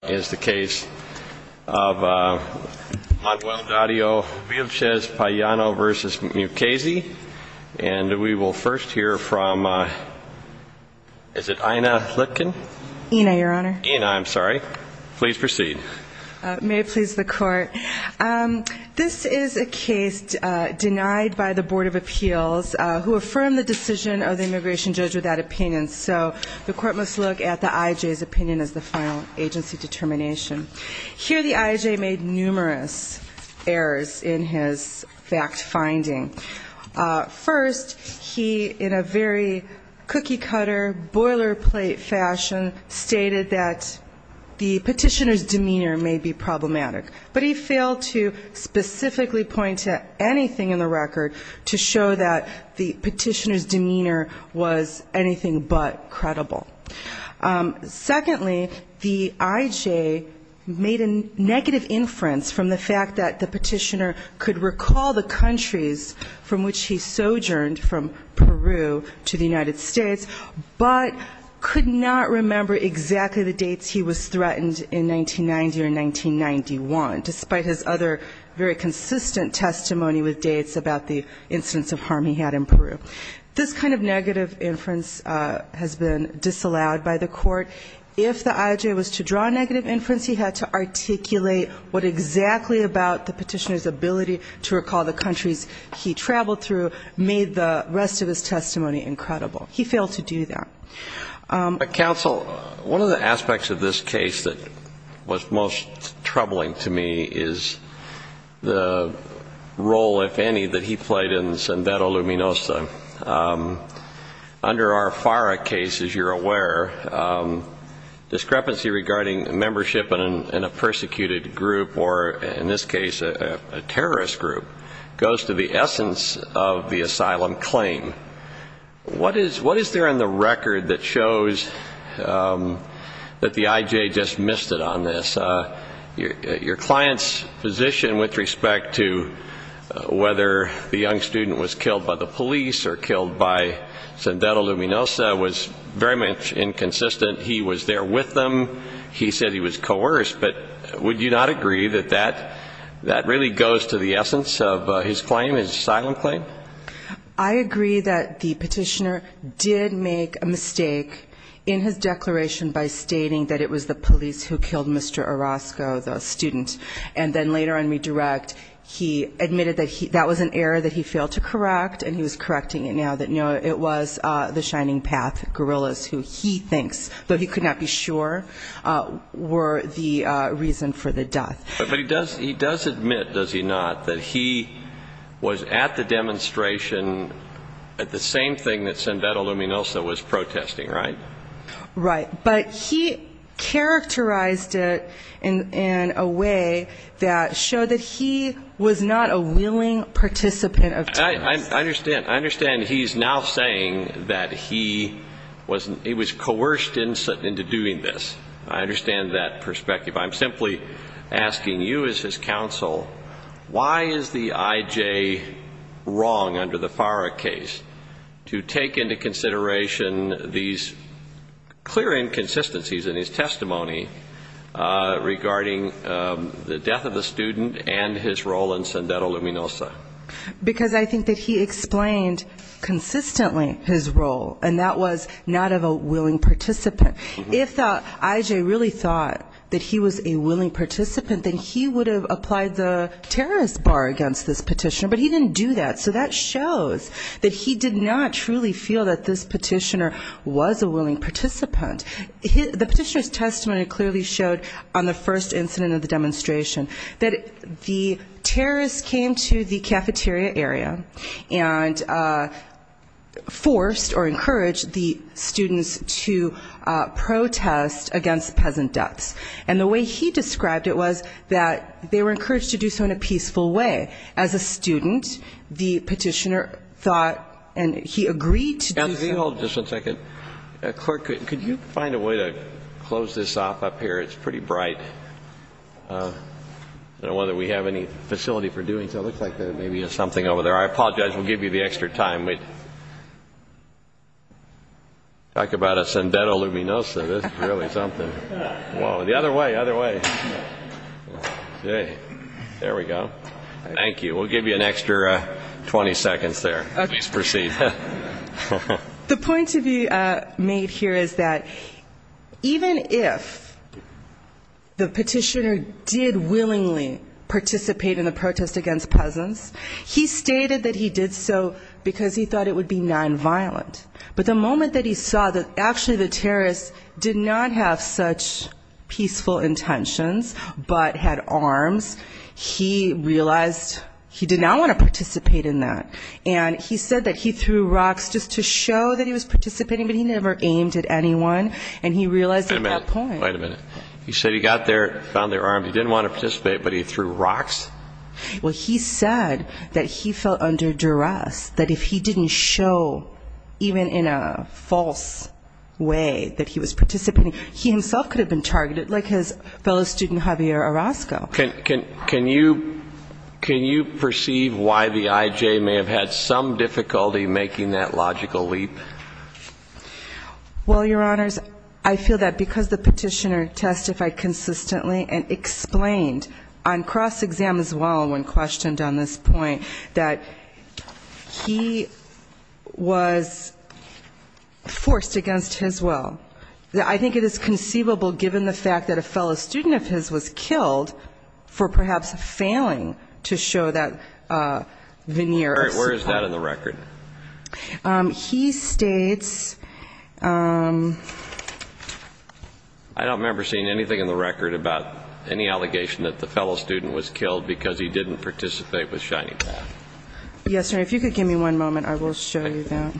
of Manuel Dario Villachez Payano v. Mukasey. And we will first hear from, is it Ina Litkin? Ina, Your Honor. Ina, I'm sorry. Please proceed. May it please the Court. This is a case denied by the Board of Appeals, who affirmed the decision of the immigration judge with that opinion. So the Court must look at the I.J.'s opinion as the final agency determination. Here the I.J. made numerous errors in his fact-finding. First, he, in a very cookie-cutter, boilerplate fashion, stated that the petitioner's demeanor may be problematic. But he failed to specifically point to anything in the record to show that the petitioner's demeanor was anything but credible. Secondly, the I.J. made a negative inference from the fact that the petitioner could recall the countries from which he sojourned, from Peru to the United States, but could not remember exactly the dates he was threatened in 1990 or 1991, despite his other very consistent testimony with dates about the instance of harm he had in Peru. This kind of negative inference has been disallowed by the Court. If the I.J. was to draw a negative inference, he had to articulate what exactly about the petitioner's ability to recall the countries he traveled through made the rest of his testimony incredible. He failed to do that. But, counsel, one of the aspects of this case that was most troubling to me is the role, if any, that he played in Sendero Luminosa. Under our FARA case, as you're aware, discrepancy regarding membership in a persecuted group or, in this case, a terrorist group, goes to the essence of the asylum claim. What is there in the record that shows that the I.J. just missed it on this? Your client's position with respect to whether the young student was killed by the police or killed by Sendero Luminosa was very much inconsistent. He was there with them. He said he was coerced. But would you not agree that that really goes to the essence of his claim, his asylum claim? I agree that the petitioner did make a mistake in his declaration by stating that it was the police who killed Mr. Orozco, the student. And then later in Redirect, he admitted that that was an error that he failed to correct, and he was correcting it now, that, no, it was the Shining Path guerrillas who he thinks, though he could not be sure, were the reason for the death. But he does admit, does he not, that he was at the demonstration at the same thing that Sendero Luminosa was protesting, right? Right. But he characterized it in a way that showed that he was not a willing participant of terrorism. I understand. I understand he's now saying that he was coerced into doing this. I understand that perspective. I'm simply asking you as his counsel, why is the IJ wrong under the FARA case to take into consideration these clear inconsistencies in his testimony regarding the death of the student and his role in Sendero Luminosa? Because I think that he explained consistently his role, and that was not of a willing participant. If IJ really thought that he was a willing participant, then he would have applied the terrorist bar against this petitioner. But he didn't do that. So that shows that he did not truly feel that this petitioner was a willing participant. The petitioner's testimony clearly showed on the first incident of the demonstration that the terrorists came to the protest against peasant deaths. And the way he described it was that they were encouraged to do so in a peaceful way. As a student, the petitioner thought and he agreed to do so. Just one second. Clerk, could you find a way to close this off up here? It's pretty bright. I don't know whether we have any facility for doing so. It looks like there may be something over there. I apologize. We'll give you the extra time. Talk about a Sendero Luminosa. This is really something. The other way. Other way. There we go. Thank you. We'll give you an extra 20 seconds there. Please proceed. The point to be made here is that even if the petitioner did willingly participate in the protest against peasants, he stated that he did so because he thought it would be nonviolent. But the moment that he saw that actually the terrorists did not have such peaceful intentions, but had arms, he realized he did not want to participate in that. And he said that he threw rocks just to show that he was participating, but he never aimed at anyone. And he realized at that point. Wait a minute. He said he got there, found their arms. He didn't want to participate, but he threw rocks? Well, he said that he felt under duress, that if he didn't show even in a false way that he was participating, he himself could have been targeted like his fellow student, Javier Orozco. Can you perceive why the IJ may have had some difficulty making that logical leap? Well, Your Honors, I feel that because the petitioner testified consistently and explained on cross-exam as well when questioned on this point that he was forced against his will. I think it is conceivable given the fact that a fellow student of his was killed for perhaps failing to show that veneer. All right. Where is that in the record? He states... I don't remember seeing anything in the record about any allegation that the fellow student was killed because he didn't participate with Shining Path. Yes, Your Honor. If you could give me one moment, I will show you that.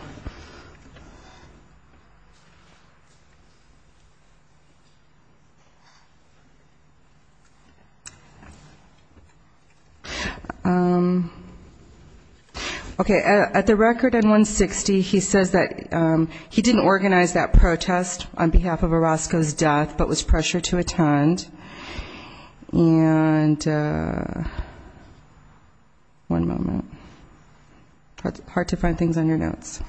Okay. At the record in 160, he says that he didn't organize that protest on behalf of Orozco's death, but was pressured to attend. And one moment. It's hard to find things on your notes.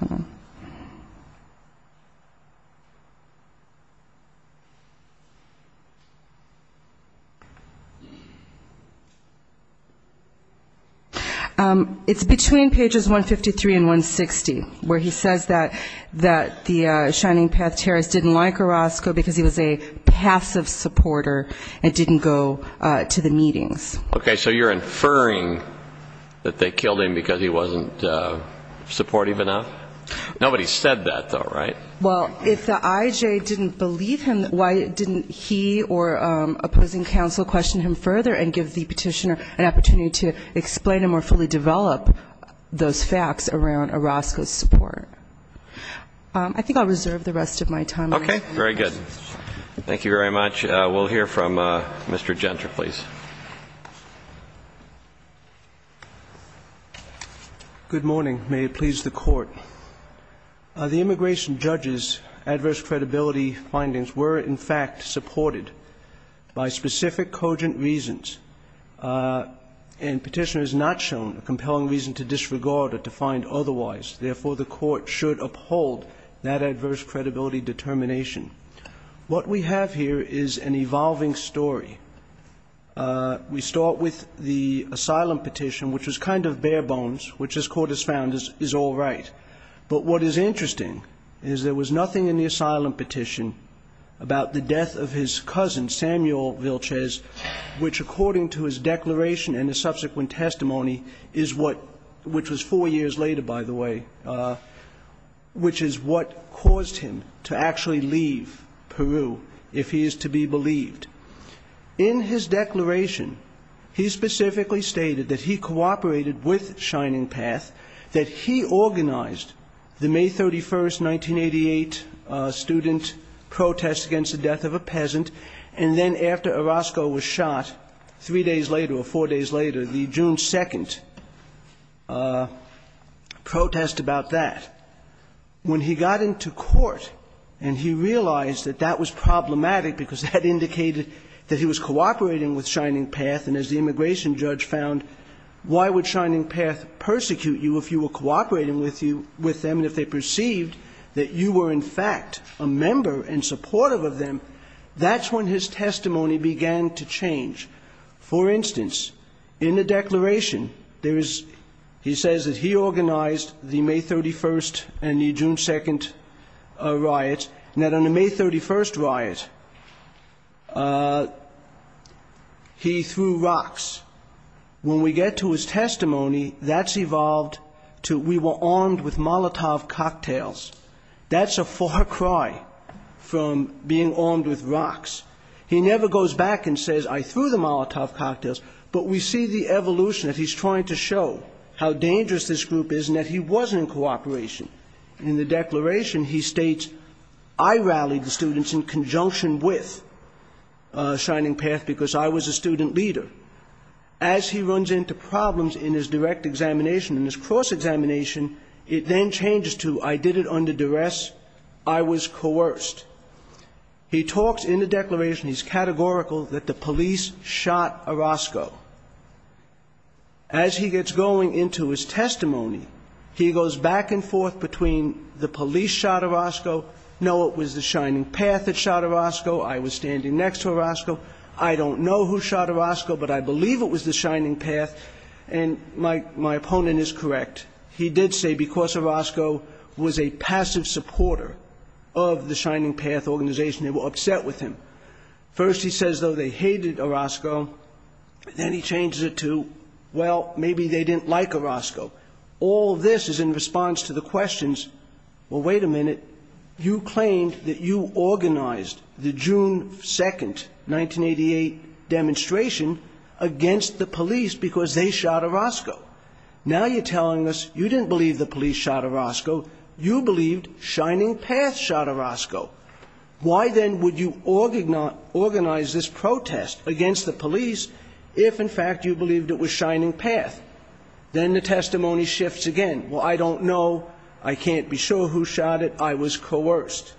It's between pages 153 and 160 where he says that Shining Path terrorist didn't like Orozco because he was a passive supporter and didn't go to the meetings. Okay. So you're inferring that they killed him because he wasn't supportive enough? Nobody said that, though, right? Well, if the IJ didn't believe him, why didn't he or opposing counsel question him further and give the petitioner an opportunity to explain and more fully develop those facts around Orozco's support? I think I'll reserve the rest of my time. Okay. Very good. Thank you very much. We'll hear from Mr. Gentry, please. Good morning. May it please the Court. The immigration judge's adverse credibility findings were, in fact, supported by specific cogent reasons, and petitioner has not shown a compelling reason to disregard or to find otherwise. Therefore, the Court should uphold that adverse credibility determination. What we have here is an evolving story. We start with the asylum petition, which was kind of bare bones, which this Court has found is all right. But what is interesting is there was nothing in the asylum petition about the death of his cousin, Samuel Vilches, which according to his declaration and the subsequent testimony is what, which was four years later, by the way, which is what caused him to actually leave Peru, if he is to be believed. In his declaration, he specifically stated that he cooperated with Shining Path, that he organized the May 31, 1988, student protest against the death of a peasant, and then after Orozco was shot three days later or four days later, the June 2 protest about that. When he got into court and he realized that that was problematic because that indicated that he was cooperating with Shining Path, and as the immigration judge found, why would Shining Path persecute you if you were cooperating with them and if they perceived that you were, in fact, a member and supportive of them? That's when his testimony began to change. For instance, in the declaration, there is, he says that he organized the May 31 and the June 2 riots, and that on the May 31 riot, he threw rocks. When we get to his testimony, that's evolved to we were armed with Molotov cocktails. That's a far cry from being armed with rocks. He never goes back and says, I threw the Molotov cocktails, but we see the evolution that he's trying to show, how dangerous this group is and that he wasn't in cooperation. In the declaration, he states, I rallied the students in conjunction with Shining Path because I was a student leader. As he runs into problems in his direct examination and his cross-examination, it then changes to I did it under duress, I was coerced. He talks in the declaration, he's categorical, that the police shot Orozco. As he gets going into his testimony, he goes back and forth between the police shot Orozco, no, it was the Shining Path that shot Orozco, I was standing next to Orozco, I don't know who shot Orozco, but I believe it was the Shining Path, and my opponent is correct. He did say because Orozco was a passive supporter of the Shining Path organization, they were upset with him. First he says, though, they hated Orozco, then he changes it to, well, maybe they didn't like Orozco. All this is in response to the questions, well, wait a minute, you claimed that you organized the June 2nd, 1988 demonstration against the police because they shot Orozco. Now you're telling us you didn't believe the police shot Orozco, you believed Shining Path shot Orozco. Why then would you organize this protest against the police if, in fact, you believed it was Shining Path? Then the testimony shifts again, well, I don't know, I can't be sure who shot it, I was coerced.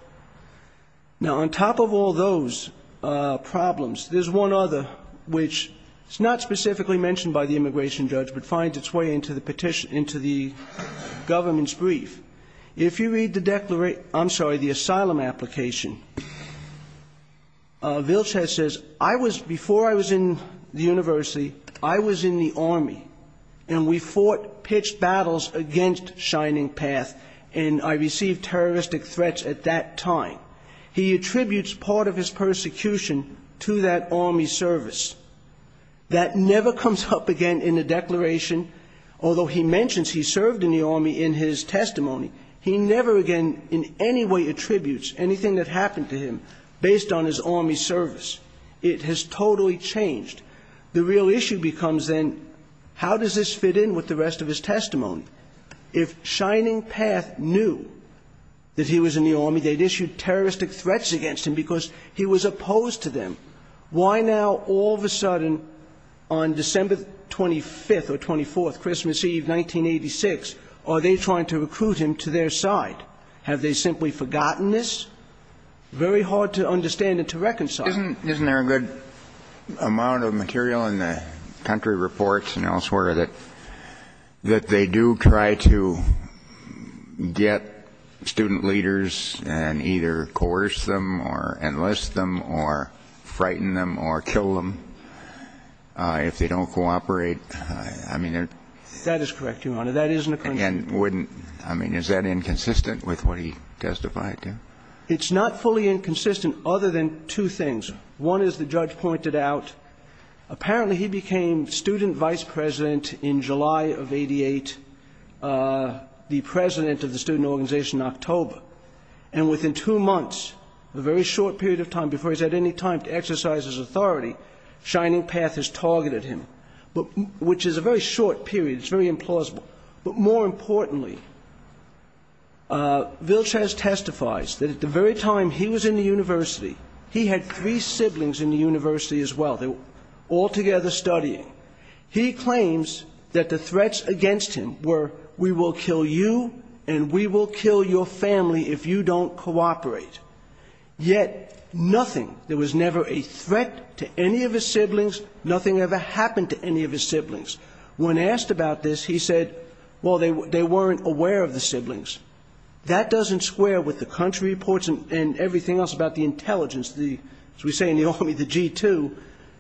Now on top of all those problems, there's one other, which is not specifically mentioned by the immigration judge, but finds its way into the petition, into the government's brief. If you read the declaration, I'm sorry, the asylum application, Vilces says, I was, before I was in the university, I was in the army. And we fought pitched battles against Shining Path, and I received terroristic threats at that time. He attributes part of his persecution to that army service. That never comes up again in the declaration, although he mentions he served in the army in his testimony, he never again in any way attributes anything that happened to him based on his army service. It has totally changed. The real issue becomes then, how does this fit in with the rest of his testimony? If Shining Path knew that he was in the army, they'd issue terroristic threats against him because he was opposed to them. Why now, all of a sudden, on December 25th or 24th, Christmas Eve, 1986, are they trying to recruit him to their side? Why not? Have they simply forgotten this? Very hard to understand and to reconcile. Isn't there a good amount of material in the country reports and elsewhere that they do try to get student leaders and either coerce them or enlist them or frighten them or kill them if they don't cooperate? I mean, is that inconsistent with what he testified to? It's not fully inconsistent other than two things. One is the judge pointed out, apparently he became student vice president in July of 88, the president of the student organization in October, and within two months, a very short period of time before he's had any time to exercise his authority, Shining Path has targeted him. Which is a very short period, it's very implausible. But more importantly, Vilchaz testifies that at the very time he was in the university, he had three siblings in the university as well. They were all together studying. He claims that the threats against him were, we will kill you and we will kill your family if you don't cooperate. Yet, nothing, there was never a threat to any of his siblings, nothing ever happened to him. When asked about this, he said, well, they weren't aware of the siblings. That doesn't square with the country reports and everything else about the intelligence, as we say in the Army, the G2,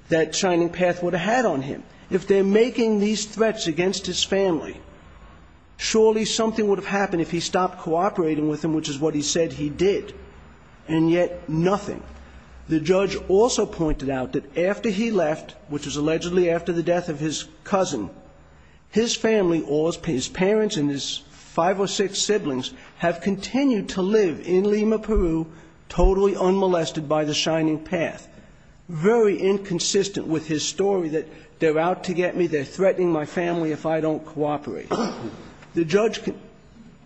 that Shining Path would have had on him. If they're making these threats against his family, surely something would have happened if he stopped cooperating with them, which is what he said he did. And yet, nothing. The judge also pointed out that after he left, which was allegedly after the G2, he was not aware of the siblings. He said that after the death of his cousin, his family, or his parents and his five or six siblings, have continued to live in Lima, Peru, totally unmolested by the Shining Path. Very inconsistent with his story that they're out to get me, they're threatening my family if I don't cooperate. The judge,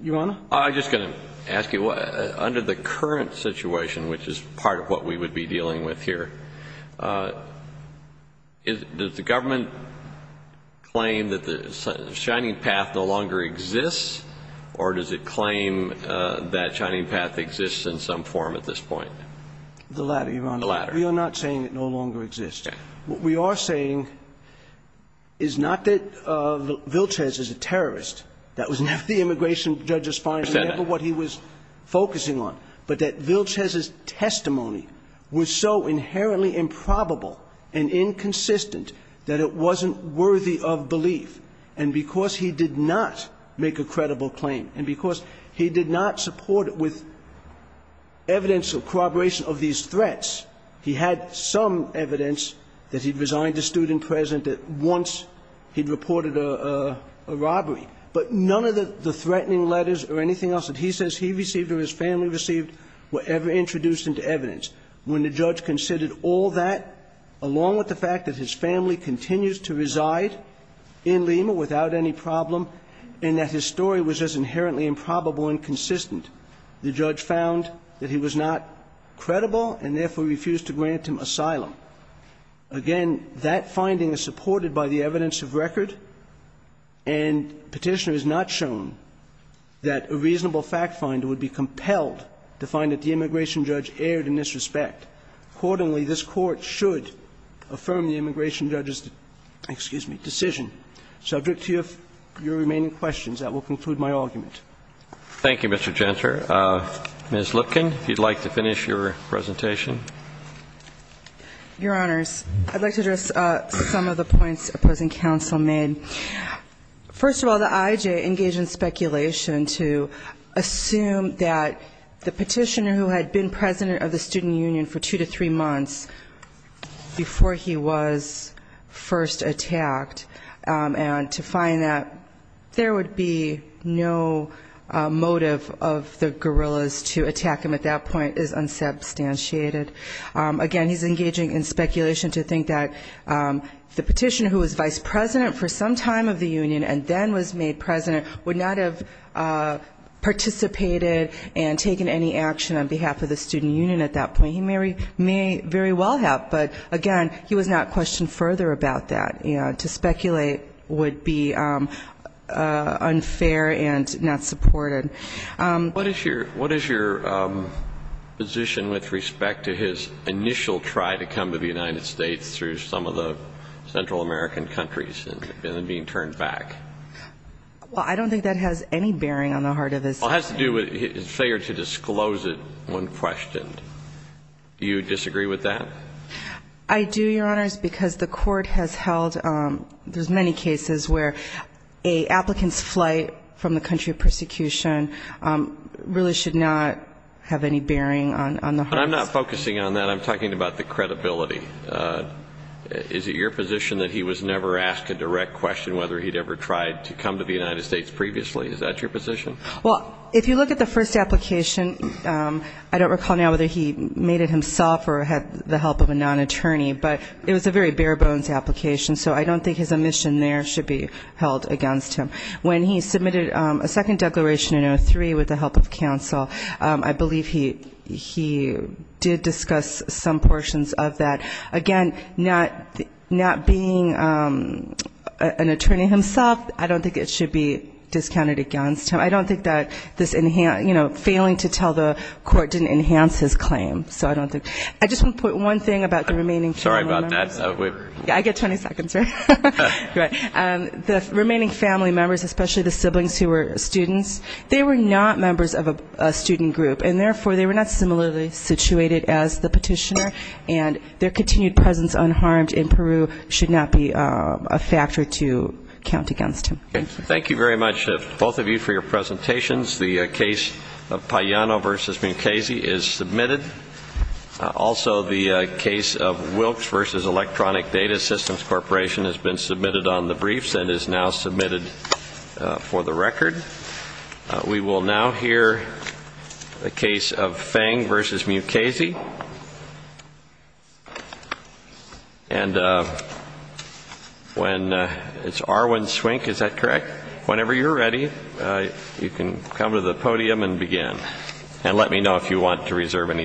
Your Honor? I'm just going to ask you, under the current situation, which is part of what we would be dealing with here, does the government claim that the Shining Path no longer exists, or does it claim that Shining Path exists in some form at this point? The latter, Your Honor. The latter. We are not saying it no longer exists. What we are saying is not that Vilches is a terrorist. That was not the immigration judge's finding, whatever he was focusing on. But that Vilches' testimony was so inherently improbable and inconsistent that it wasn't worthy of belief. And because he did not make a credible claim, and because he did not support it with evidence of corroboration of these threats, he had some evidence that he'd resigned as student president once he'd reported a robbery. But none of the threatening letters or anything else that he says he received or his family received were ever introduced into evidence. When the judge considered all that, along with the fact that his family continues to reside in Lima without any problem, and that his story was just inherently improbable and inconsistent, the judge found that he was not credible and therefore refused to grant him asylum. Again, that finding is supported by the evidence of record, and Petitioner has not shown that a reasonable fact finder would be compelled to find that the immigration judge erred in this respect. Accordingly, this Court should affirm the immigration judge's decision. So I'll direct to you your remaining questions. That will conclude my argument. Roberts. Thank you, Mr. Jentzer. Ms. Lipkin, if you'd like to finish your presentation. Your Honors, I'd like to address some of the points opposing counsel made. First of all, the IJ engaged in speculation to assume that the petitioner who had been president of the student union for two to three months before he was first attacked, and to find that there would be no motive of the guerrillas to attack him at that point is unsubstantiated. Again, he's engaging in speculation to think that the petitioner who was vice president for some time of the union and then was made president would not have participated and taken any action on behalf of the student union at that point. He may very well have, but again, he was not questioned further about that. To speculate would be unfair and not supported. What is your position with respect to his initial try to come to the United States through some of the Central American countries and then being turned back? Well, I don't think that has any bearing on the heart of this case. Well, it has to do with his failure to disclose it when questioned. Do you disagree with that? I do, Your Honors, because the court has held, there's many cases where a applicant's flight from the country of persecution really should not have any bearing on the heart. I'm not focusing on that. I'm talking about the credibility. Is it your position that he was never asked a direct question whether he'd ever tried to come to the United States previously? Is that your position? Well, if you look at the first application, I don't recall now whether he made it himself or had the help of a non-attorney, but it was a very bare-bones application, so I don't think his omission there should be held against him. When he submitted a second declaration in 2003 with the help of counsel, I believe he did discuss some portions of that. But again, not being an attorney himself, I don't think it should be discounted against him. I don't think that this failing to tell the court didn't enhance his claim, so I don't think. I just want to put one thing about the remaining family members. Sorry about that. I get 20 seconds, right? The remaining family members, especially the siblings who were students, they were not members of a student group, and therefore they were not similarly situated as the petitioner, and their continued presence unharmed in Peru should not be a factor to count against him. Thank you very much, both of you, for your presentations. The case of Pagliano v. Mukasey is submitted. Also, the case of Wilkes v. Electronic Data Systems Corporation has been submitted on the briefs and is now submitted for the record. We will now hear the case of Feng v. Mukasey. And when it's Arwin Swink, is that correct? Whenever you're ready, you can come to the podium and begin. And let me know if you want to reserve any time.